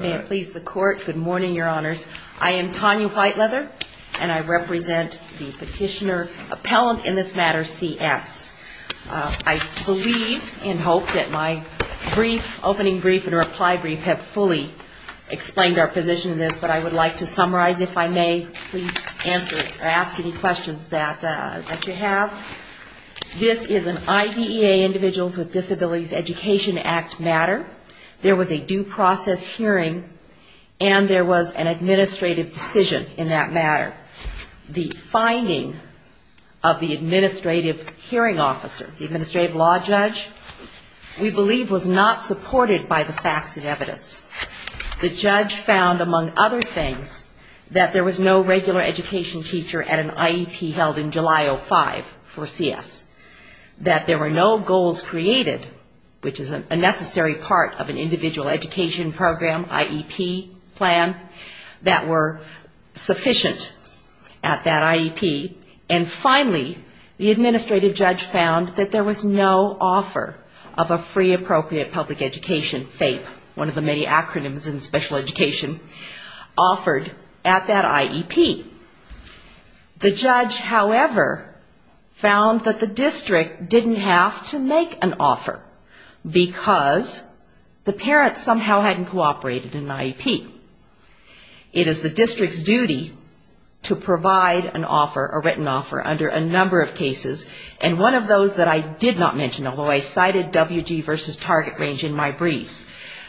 May it please the Court, good morning, Your Honors. I am Tanya Whiteleather, and I represent the petitioner appellant in this matter, C.S. I believe and hope that my brief, opening brief and reply brief have fully explained our position in this, but I would like to summarize if I may. Please answer or ask any questions that you have. This is an IDEA, Individuals with Disabilities Education Act matter. There was a due process hearing and there was an administrative decision in that matter. The finding of the administrative hearing officer, the administrative law judge, we believe was not supported by the facts and evidence. The judge found, among other things, that there was no regular education teacher at an IEP held in July of 2005 for C.S. That there were no goals created, which is a necessary part of an individual education program, IEP plan, that were sufficient at that IEP. And finally, the administrative judge found that there was no offer of a free appropriate public education, FAPE, one of the many acronyms in special education, offered at that IEP. The judge, however, found that the district didn't have to make an offer because the parents somehow hadn't cooperated in an IEP. It is the district's duty to provide an offer, a written offer, under a number of cases, and one of those that I did not mention, although I cited W.G. v. Target Range in my briefs,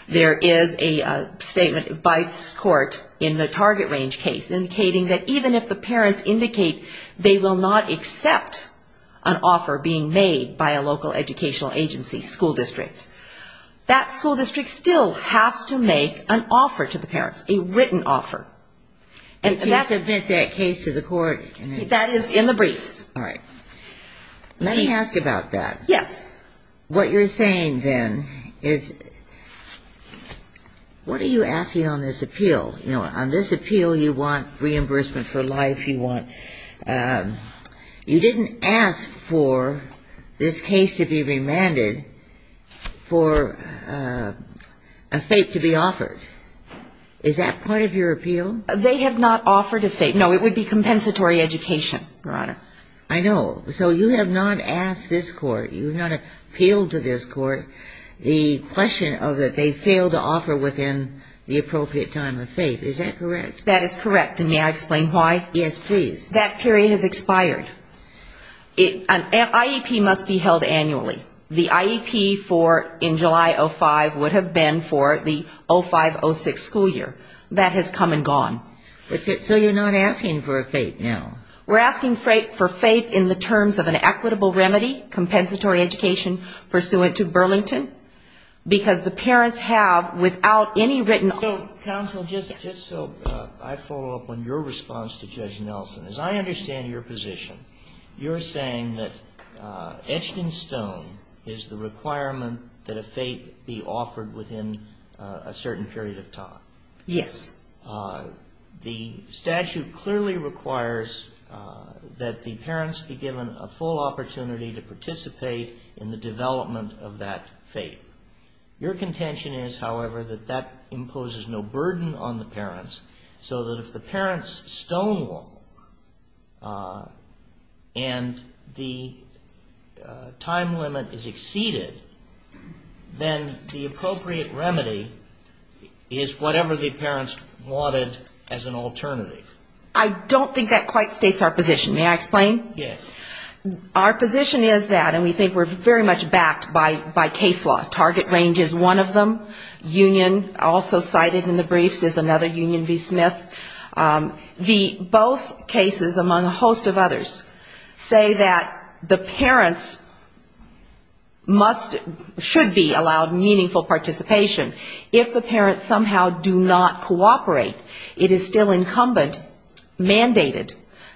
there is a statement by this Target Range case indicating that even if the parents indicate they will not accept an offer being made by a local educational agency, school district, that school district still has to make an offer to the parents, a written offer. And can you submit that case to the court? That is in the briefs. All right. Let me ask about that. Yes. What you're saying, then, is what are you asking on this appeal? You know, on this appeal, you want reimbursement for life, you want you didn't ask for this case to be remanded for a FAPE to be offered. Is that part of your appeal? They have not offered a FAPE. No, it would be compensatory education, Your Honor. I know. So you have not asked this court, you have not appealed to this court, the question of that they failed to offer within the appropriate time of FAPE. Is that correct? That is correct. And may I explain why? Yes, please. That period has expired. An IEP must be held annually. The IEP for in July of 2005 would have been for the 2005-2006 school year. That has come and gone. So you're not asking for a FAPE now? We're asking for FAPE in the terms of an equitable remedy, compensatory education pursuant to Burlington, because the parents have, without any written... So, counsel, just so I follow up on your response to Judge Nelson, as I understand your position, you're saying that etched in stone is the requirement that a FAPE be offered within a certain period of time? Yes. The statute clearly requires that the parents be given a full opportunity to participate in the development of that FAPE. Your contention is, however, that that imposes no burden on the parents, so that if the parents stonewall and the time limit is exceeded, then the appropriate FAPE is not required. I don't think that quite states our position. May I explain? Yes. Our position is that, and we think we're very much backed by case law, Target Range is one of them. Union, also cited in the briefs, is another Union v. Smith. The both cases among a host of others say that the parents must, should be allowed meaningful participation if the parents somehow do not cooperate. It is still incumbent, mandated,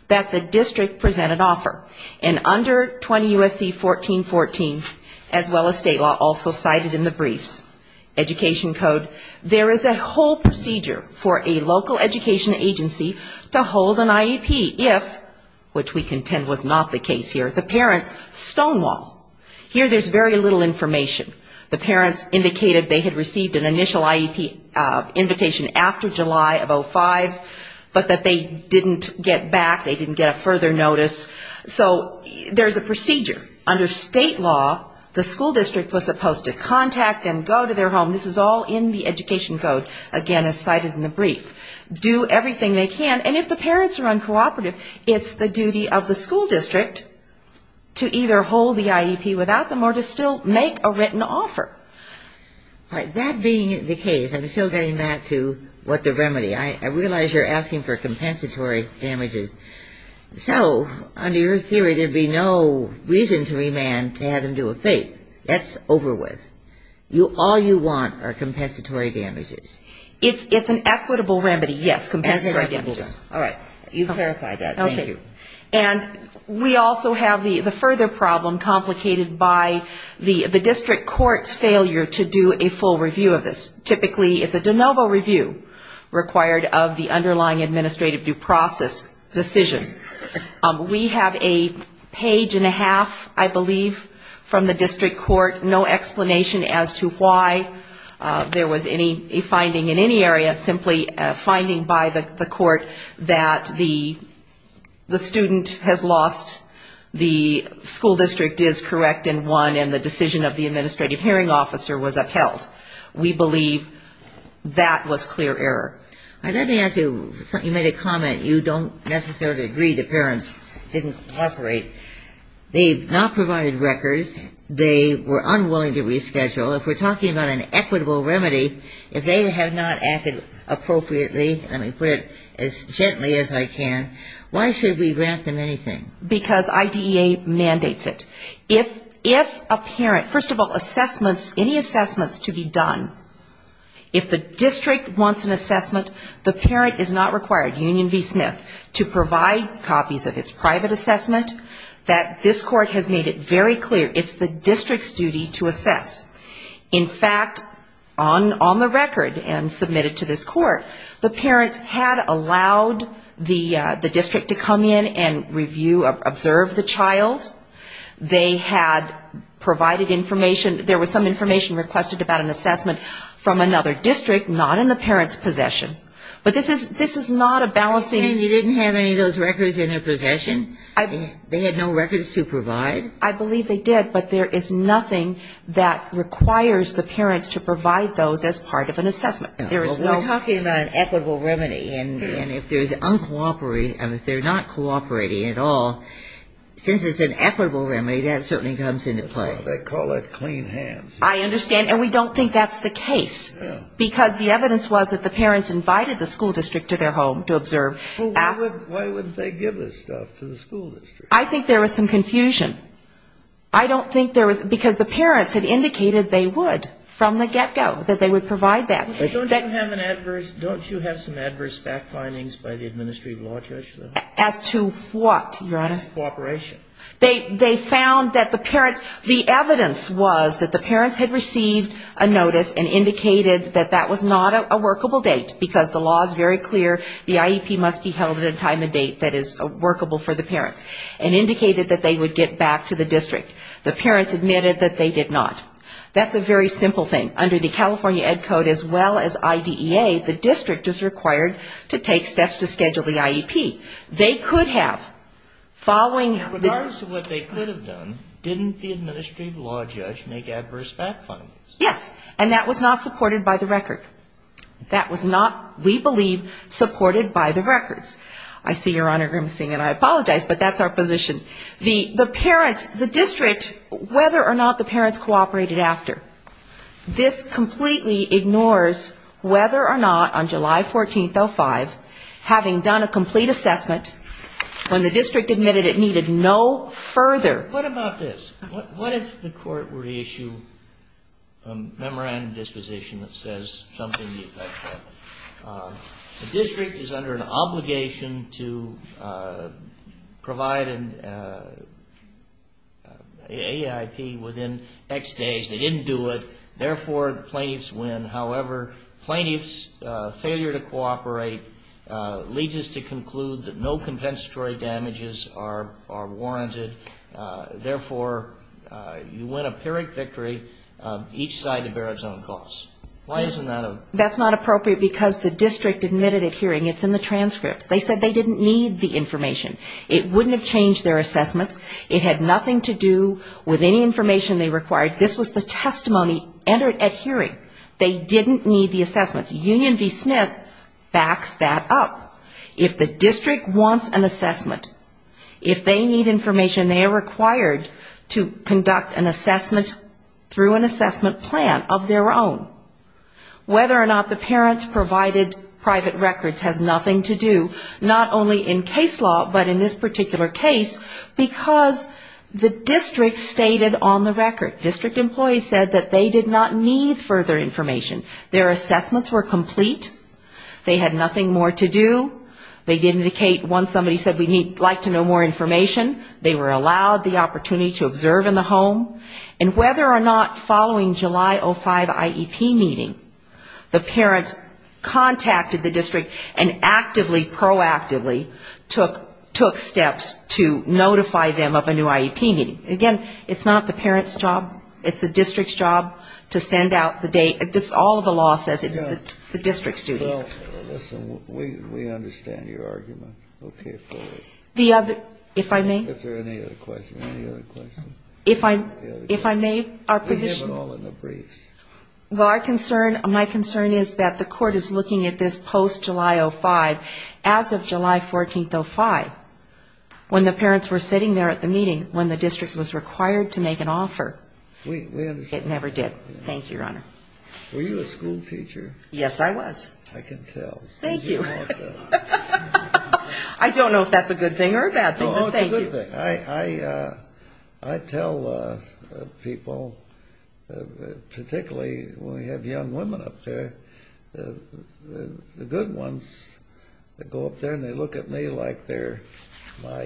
that the district present an offer. And under 20 U.S.C. 1414, as well as state law, also cited in the briefs, Education Code, there is a whole procedure for a local education agency to hold an IEP if, which we contend was not the case here, the parents stonewall. Here there's very little information. The parents indicated they had received an initial IEP invitation after July of 2005, but that they didn't get back, they didn't get a further notice. So there's a procedure. Under state law, the school district was supposed to contact them, go to their home. This is all in the Education Code, again, as cited in the brief. Do everything they can. And if the parents are uncooperative, it's the duty of the school district to either hold the IEP without them or to still make a written offer. All right. That being the case, I'm still getting back to what the remedy. I realize you're asking for compensatory damages. So under your theory, there would be no reason to remand to have them do a FAPE. That's over with. All you want are compensatory damages. It's an equitable remedy, yes, compensatory damages. All right. You've clarified that. Thank you. And we also have the further problem complicated by the district court's failure to do a full review of this. Typically, it's a de novo review required of the underlying administrative due process decision. We have a page and a half, I believe, from the district court, no explanation as to why there was any finding in any area, simply a finding by the court that the student has lost, the school district is correct and won, and the decision of the administrative hearing officer was upheld. We believe that was clear error. All right. Let me ask you, you made a comment. You don't necessarily agree the parents didn't cooperate. They've not provided records. They were unwilling to reschedule. If we're talking about an equitable remedy, if they have not acted appropriately, let me put it as gently as I can, why should we grant them anything? Because IDEA mandates it. If a parent, first of all, assessments, any assessments to be done, if the district wants an assessment, the parent is not required, Union v. Smith, to provide copies of its private assessment, that this court has made it very clear it's the district's duty to assess. In fact, on the record, and submitted to this court, the parents had allowed the district to come in and review, observe the child. They had provided information, there was some information requested about an assessment from another district, not in the parent's possession. But this is not a balancing ---- You didn't have any of those records in their possession? They had no records to provide? I believe they did, but there is nothing that requires the parents to provide those as part of an assessment. There is no ---- We're talking about an equitable remedy. And if there's uncooperative, if they're not cooperating at all, since it's an equitable remedy, that certainly comes into play. They call it clean hands. I understand. And we don't think that's the case. Because the evidence was that the parents invited the school district to their home to observe. Well, why wouldn't they give this stuff to the school district? I think there was some confusion. I don't think there was ---- because the parents had indicated they would, from the get-go, that they would provide that. Don't you have an adverse ---- don't you have some adverse fact findings by the Administrative Law Judge? As to what, Your Honor? Cooperation. They found that the parents ---- the evidence was that the parents had received a notice and indicated that that was not a workable date, because the law is very clear, the IEP must be held at a time and date that is workable for the parents, and indicated that they would get back to the district. The parents admitted that they did not. That's a very simple thing. Under the California Ed Code, as well as IDEA, the district is required to take steps to schedule the IEP. They could have, following ---- In regards to what they could have done, didn't the Administrative Law Judge make adverse fact findings? Yes. And that was not supported by the record. That was not, we believe, supported by the records. I see Your Honor grimacing, and I apologize, but that's our position. The parents, the district, whether or not the parents cooperated after, this completely ignores whether or not, on July 14th, 05, having done a complete assessment, when the district admitted it needed no further ---- What about this? What if the Court were to issue a memorandum of disposition that says The district is under an obligation to provide an AEIP within X days. They didn't do it. Therefore, the plaintiffs win. However, plaintiffs' failure to cooperate leads us to conclude that no compensatory damages are warranted. Therefore, you win a pyrrhic victory, each side to bear its own costs. Why isn't that a ---- That's not appropriate because the district admitted it hearing. It's in the transcripts. They said they didn't need the information. It wouldn't have changed their assessments. It had nothing to do with any information they required. This was the testimony entered at hearing. They didn't need the assessments. Union v. Smith backs that up. If the district wants an assessment, if they need information, they are required to conduct an assessment through an assessment plan of their own. Whether or not the parents provided private records has nothing to do, not only in case law, but in this particular case, because the district stated on the record, district employees said that they did not need further information. Their assessments were complete. They had nothing more to do. They did indicate once somebody said we'd like to know more information, they were allowed the opportunity to observe in the home. And whether or not following July 05 IEP meeting, the parents contacted the district and actively, proactively took steps to notify them of a new IEP meeting. Again, it's not the parent's job. It's the district's job to send out the date. All of the law says it's the district's duty. Well, listen, we understand your argument. Okay, forward. The other, if I may? If there are any other questions, any other questions? If I, if I may, our position We have it all in the briefs. Well, our concern, my concern is that the court is looking at this post-July 05, as of July 14th 05, when the parents were sitting there at the meeting, when the district was required to make an offer. We, we understand. It never did. Thank you, Your Honor. Were you a school teacher? Yes, I was. I can tell. Thank you. I don't know if that's a good thing or a bad thing, but thank you. It's a good thing. I, I, I tell people, particularly when we have young women up there, the good ones that go up there and they look at me like they're my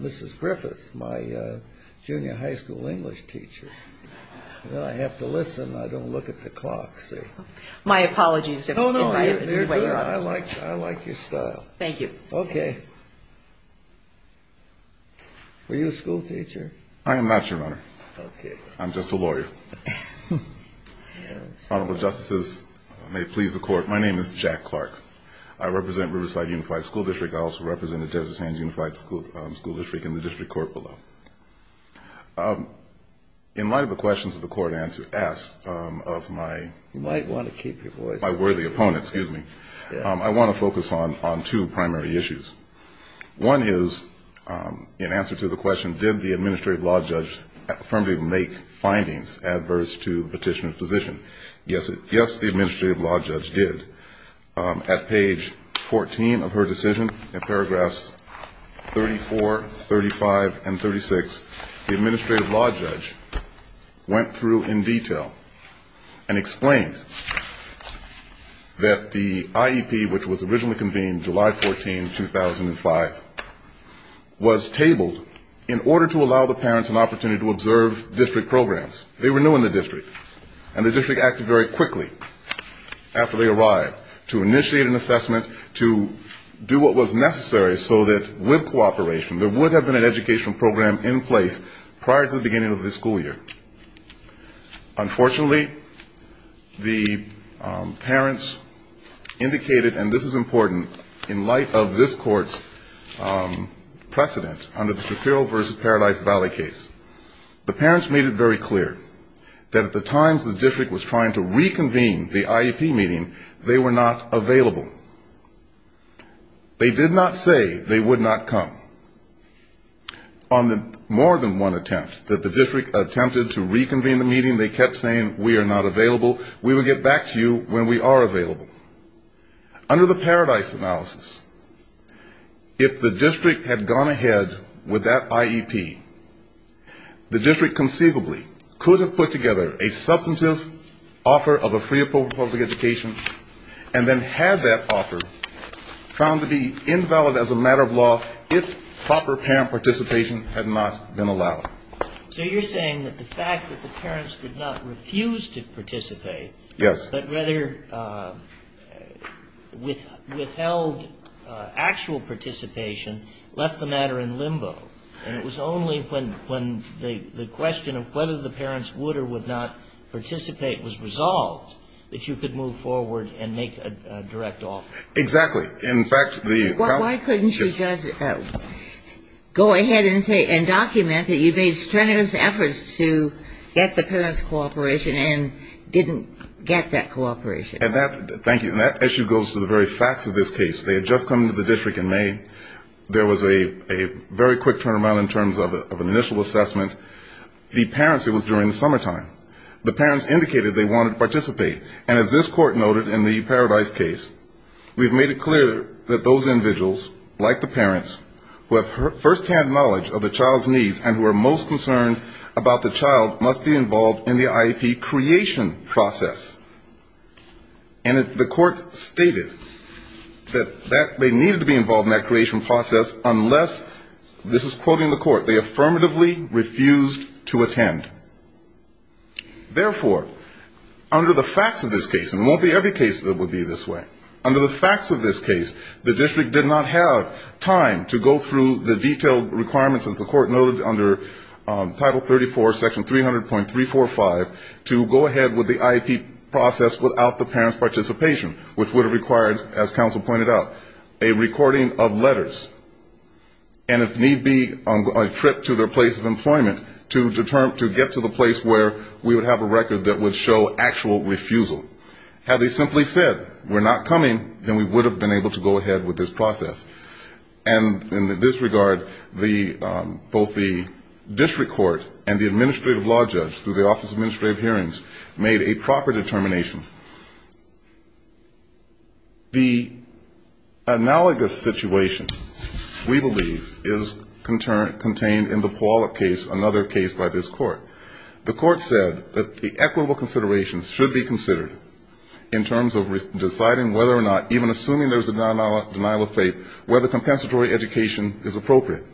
Mrs. Griffiths, my junior high school English teacher. And I have to listen. I don't look at the clock, see? My apologies if I've... Oh, no, no. ...invited you. I like, I like your style. Thank you. Okay. Were you a school teacher? I am not, Your Honor. Okay. I'm just a lawyer. Yes. Honorable Justices, may it please the Court, my name is Jack Clark. I represent Riverside Unified School District. I also represent the Desert Sands Unified School District in the district court below. In light of the questions that the Court asked of my... You might want to keep your voice down. ...my worthy opponent, excuse me. One is, in answer to the question, did the Administrative Law Judge affirmably make findings adverse to the petitioner's position? Yes, the Administrative Law Judge did. At page 14 of her decision, in paragraphs 34, 35, and 36, the Administrative Law Judge went through in detail and explained that the IEP, which was originally convened July 14, 2005, was tabled in order to allow the parents an opportunity to observe district programs. They were new in the district, and the district acted very quickly after they arrived to initiate an assessment to do what was necessary so that with cooperation there would have been an educational program in place prior to the beginning of the school year. Unfortunately, the parents indicated, and this is important, in light of this Court's precedent under the Shapiro v. Paralyzed Valley case, the parents made it very clear that at the times the district was trying to reconvene the IEP meeting, they were not available. They did not say they would not come. On the more than one attempt that the district attempted to reconvene the meeting, they kept saying, we are not available, we will get back to you when we are available. Under the Paradise analysis, if the district had gone ahead with that IEP, the district conceivably could have put together a substantive offer of a free public education and then had that offer found to be invalid as a matter of law if proper parent participation had not been allowed. So you're saying that the fact that the parents did not refuse to participate, but rather withheld actual participation, left the matter in limbo. And it was only when the question of whether the parents would or would not participate was resolved that you could move forward and make a direct offer. Exactly. In fact, the Why couldn't you just go ahead and say and document that you made strenuous efforts to get the parents' cooperation and didn't get that cooperation? And that, thank you, and that issue goes to the very facts of this case. They had just come to the district in May. There was a very quick turnaround in terms of an initial assessment. The parents, it was during the summertime. The parents indicated they wanted to participate. And as this court noted in the Paradise case, we've made it clear that those individuals, like the parents, who have firsthand knowledge of the child's needs and who are most concerned about the child must be involved in the IEP creation process. And the court stated that they needed to be involved in that creation process unless, this is quoting the court, they affirmatively refused to attend. Therefore, under the facts of this case, and it won't be every case that would be this way, under the facts of this case, the district did not have time to go through the detailed requirements that the court noted under Title 34, Section 300.345, to go ahead with the IEP process without the parents' participation, which would have required, as counsel pointed out, a recording of letters. And if need be, a trip to their place of employment to get to the place where we would have a record that would show actual refusal. Had they simply said we're not coming, then we would have been able to go ahead with this process. And in this regard, both the district court and the administrative law judge through the Office of Administrative Hearings made a proper determination. The analogous situation, we believe, is contained in the Puyallup case, another case by this court. The court said that the equitable considerations should be considered in terms of deciding whether or not, even assuming there's a denial of faith, whether compensatory education is appropriate.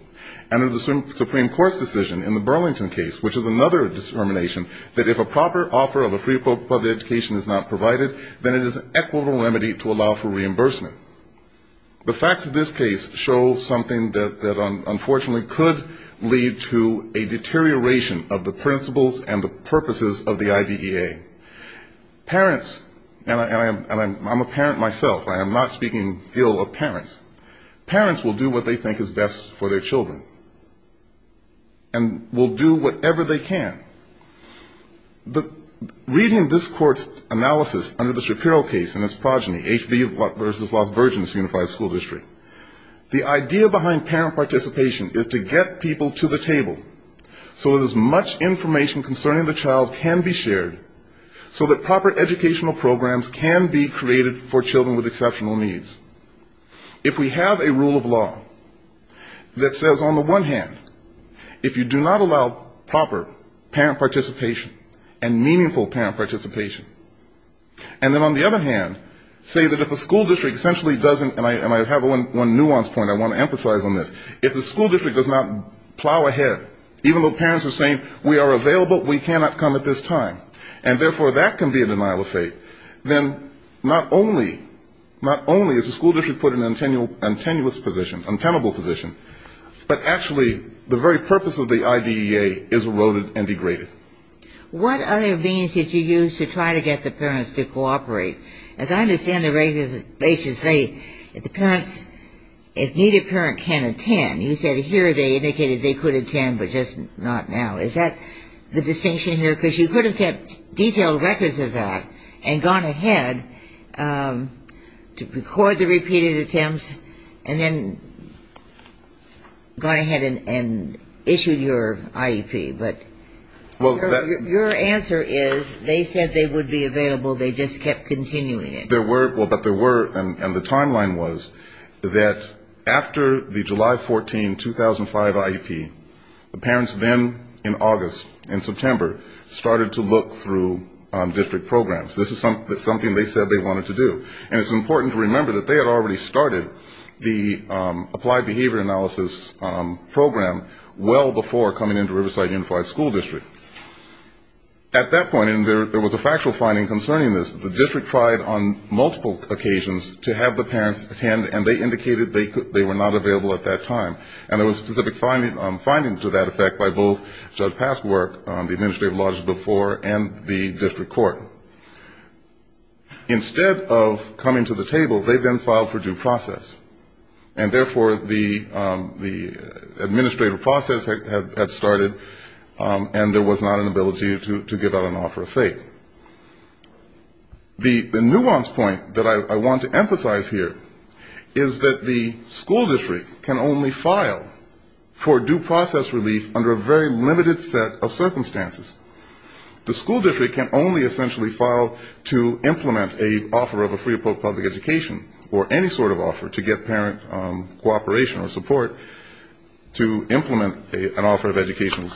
And in the Supreme Court's decision in the Burlington case, which is another determination, that if a proper offer of a free public education is not offered, then it is an equitable remedy to allow for reimbursement. The facts of this case show something that unfortunately could lead to a deterioration of the principles and the purposes of the IDEA. Parents, and I'm a parent myself, I am not speaking ill of parents, parents will do what they think is best for their children, and will do whatever they can. Reading this court's analysis under the Shapiro case and its progeny, H.B. v. Lost Virgin's Unified School District, the idea behind parent participation is to get people to the table so that as much information concerning the child can be shared, so that proper educational programs can be created for children with exceptional needs. If we have a rule of law that says on the one hand, if you do not allow proper parent participation and meaningful parent participation, and then on the other hand, say that if a school district essentially doesn't, and I have one nuance point I want to emphasize on this, if the school district does not plow ahead, even though parents are saying we are available, we cannot come at this time, and therefore that can be a denial of faith, then not only is the school district put in an untenable position, but actually the very purpose of the IDEA is eroded and degraded. What other means did you use to try to get the parents to cooperate? As I understand the regulations say, if the parents, if neither parent can attend, you said here they indicated they could attend, but just not now. Is that the distinction here? Because you could have kept detailed records of that and gone ahead to record the repeated attempts, and then gone ahead and issued your IEP. Your answer is they said they would be available, they just kept continuing it. Well, but there were, and the timeline was that after the July 14, 2005 IEP, the parents then in August, in September, started to look through district programs. This is something they said they wanted to do. And it's important to remember that they had already started the applied behavior analysis program well before coming into the Riverside Unified School District. At that point, and there was a factual finding concerning this, the district tried on multiple occasions to have the parents attend, and they indicated they were not available at that time. And there was a specific finding to that effect by both Judge Passwork, the administrative logic before, and the district court. Instead of coming to the table, they then filed for due process. And therefore, the administrative process had started, and there was not an ability to give out an offer of fate. The nuanced point that I want to emphasize here is that the school district can only file for due process relief under a very limited set of circumstances. The school district can only essentially file to implement an offer of a free or public education, or any sort of offer to get parent cooperation or support to implement an offer of education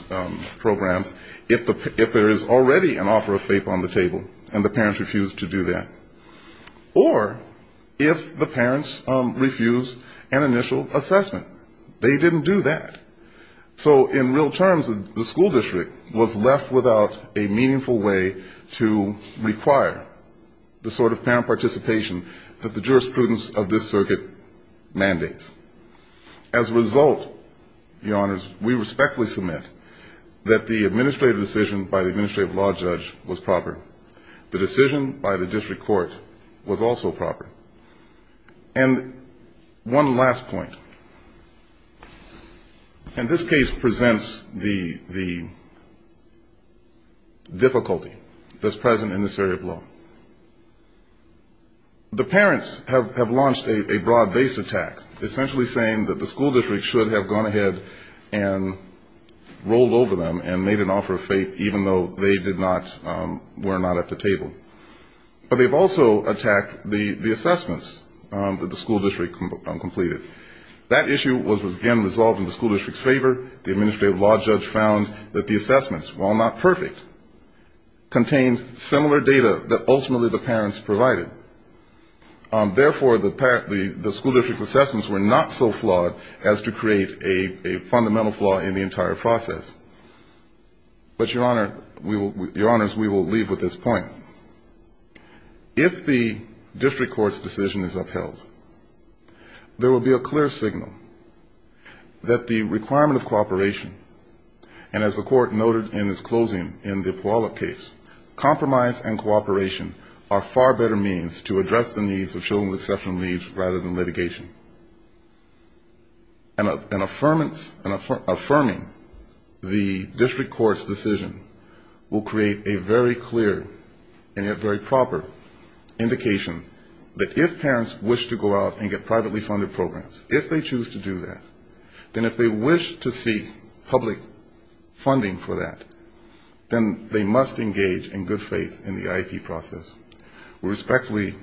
programs if there is already an offer of fate on the table, and the parents refuse to do that. Or if the parents refuse an initial assessment. They didn't do that. So in real terms, the school district was left without a meaningful way to require the sort of parent participation that the jurisprudence of this circuit mandates. As a result, Your Honors, we respectfully submit that the administrative decision by the administrative law judge was proper. The decision by the district court was also proper. And one last point. And this case presents the difficulty that's present in this area of law. The parents have launched a broad-based attack, essentially saying that the school district should have gone ahead and rolled over them and made an offer of fate, even though they were not at the table. But they've also attacked the assessments that the school district completed. That issue was again resolved in the school district's favor. The administrative law judge found that the assessments, while not perfect, contained similar data that ultimately the parents provided. Therefore, the school district's assessments were not so flawed as to create a fundamental flaw in the entire process. But, Your Honors, we will leave with this point. If the district court's decision is upheld, there will be a clear signal that the requirement of cooperation, and as the court noted in its closing in the Puyallup case, compromise and cooperation are far better means to address the needs of children with exceptional needs rather than litigation. And affirming the district court's decision will create a very clear and yet very proper indication that if parents wish to go out and get privately funded programs, if they choose to do that, then if they wish to seek public funding for that, then they must engage in good faith in the IEP process. We respectfully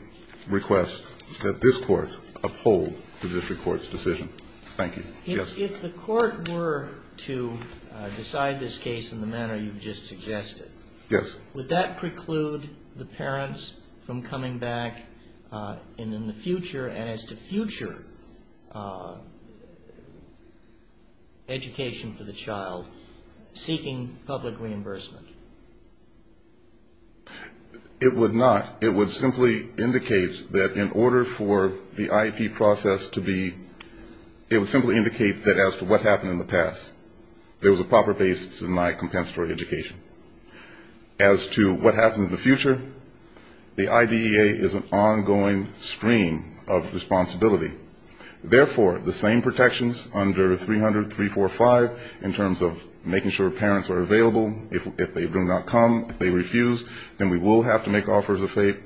request that this court uphold the district court's decision. Thank you. Yes. If the court were to decide this case in the manner you've just suggested, would that preclude the parents from coming back in the future and as to future education for the child, seeking public reimbursement? It would not. It would simply indicate that in order for the IEP process to be, it would simply indicate that as to what happened in the past, there was a proper basis in my compensatory education. As to what happens in the future, the IDEA is an ongoing stream of responsibility. Therefore, the same protections under 300.345, the same protections under 300.345, the same protections under 300.345, in terms of making sure parents are available. If they do not come, if they refuse, then we will have to make offers of faith.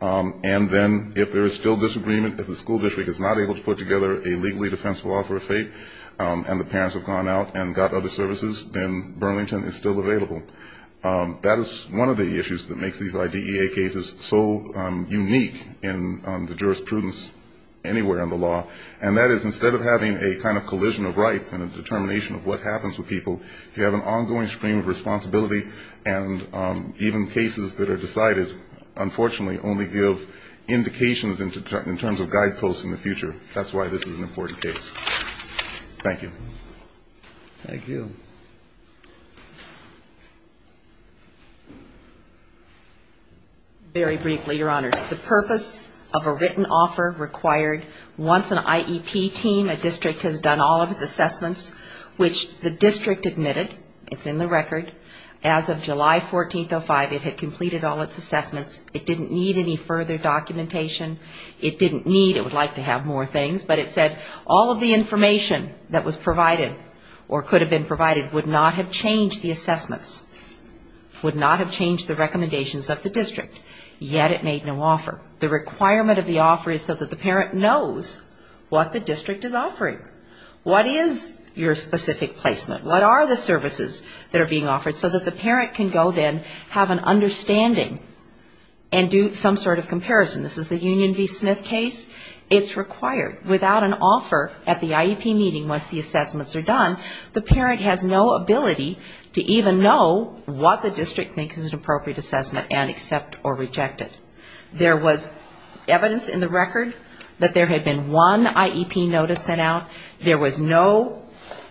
And then if there is still disagreement, if the school district is not able to put together a legally defensible offer of faith, and the parents have gone out and got other services, then Burlington is still available. That is one of the issues that makes these IDEA cases so unique in the jurisprudence anywhere in the law. And that is instead of having a kind of collision of rights and a determination of what happens with people, you have an ongoing stream of responsibility and even cases that are decided, unfortunately, only give indications in terms of guideposts in the future. That's why this is an important case. Thank you. Thank you. Very briefly, Your Honors. The purpose of a written offer required once an IEP team, a district has done all of its assessments, which the district admitted, it's in the record, as of July 14, 2005, it had completed all its assessments. It didn't need any further documentation. It didn't need, it would like to have more things, but it said all of the information that was provided or could have been provided would not have changed the assessments, would not have changed the recommendations of the district, yet it made no offer. The requirement of the offer is so that the parent knows what the district is offering. What is your specific placement? What are the services that are being offered? So that the parent can go then have an understanding and do some sort of comparison. This is the Union v. Smith case. It's required. Without an offer at the IEP meeting once the assessment is done, the parent has no ability to even know what the district thinks is an appropriate assessment and accept or reject it. There was evidence in the record that there had been one IEP notice sent out. There was no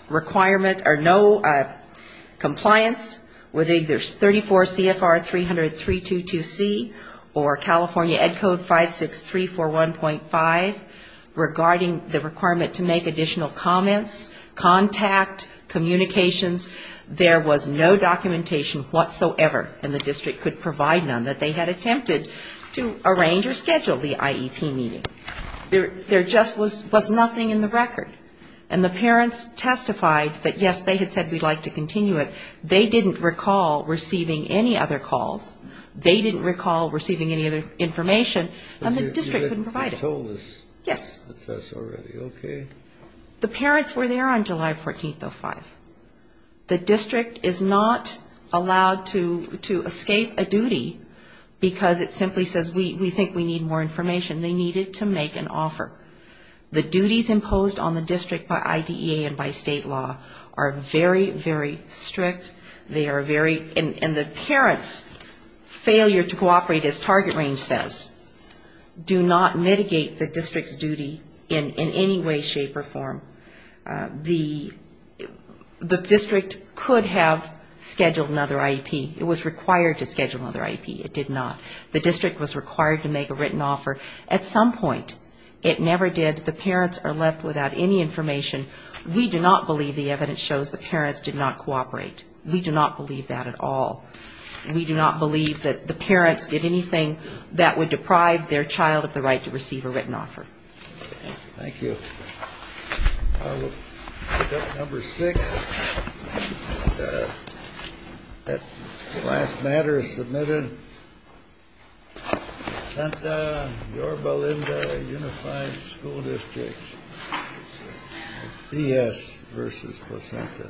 requirement or no compliance with either 34 CFR 300-322C or California Ed Code 56341.5 regarding the requirement to make additional comments. Contact, communications, there was no documentation whatsoever and the district could provide none that they had attempted to arrange or schedule the IEP meeting. There just was nothing in the record. And the parents testified that, yes, they had said we'd like to continue it. They didn't recall receiving any other calls. They didn't recall receiving any other information, and the district couldn't provide it. Yes. The parents were there on July 14th of 5. The district is not allowed to escape a duty because it simply says we think we need more information. They needed to make an offer. The duties imposed on the district by IDEA and by state law are very, very strict. They are very, and the parent's failure to cooperate, as Target Range says, do not mitigate the district's duty in any way, shape or form. The district could have scheduled another IEP. It was required to schedule another IEP. It did not. The district was required to make a written offer. At some point it never did. The parents are left without any information. We do not believe the evidence shows the parents did not cooperate. We do not believe that at all. We do not believe that the parents did anything that would deprive their child of the right to receive a written offer. Thank you. Number six. The last matter submitted, Placenta, Yorba Linda, Unified School District. PS versus Placenta. Thank you.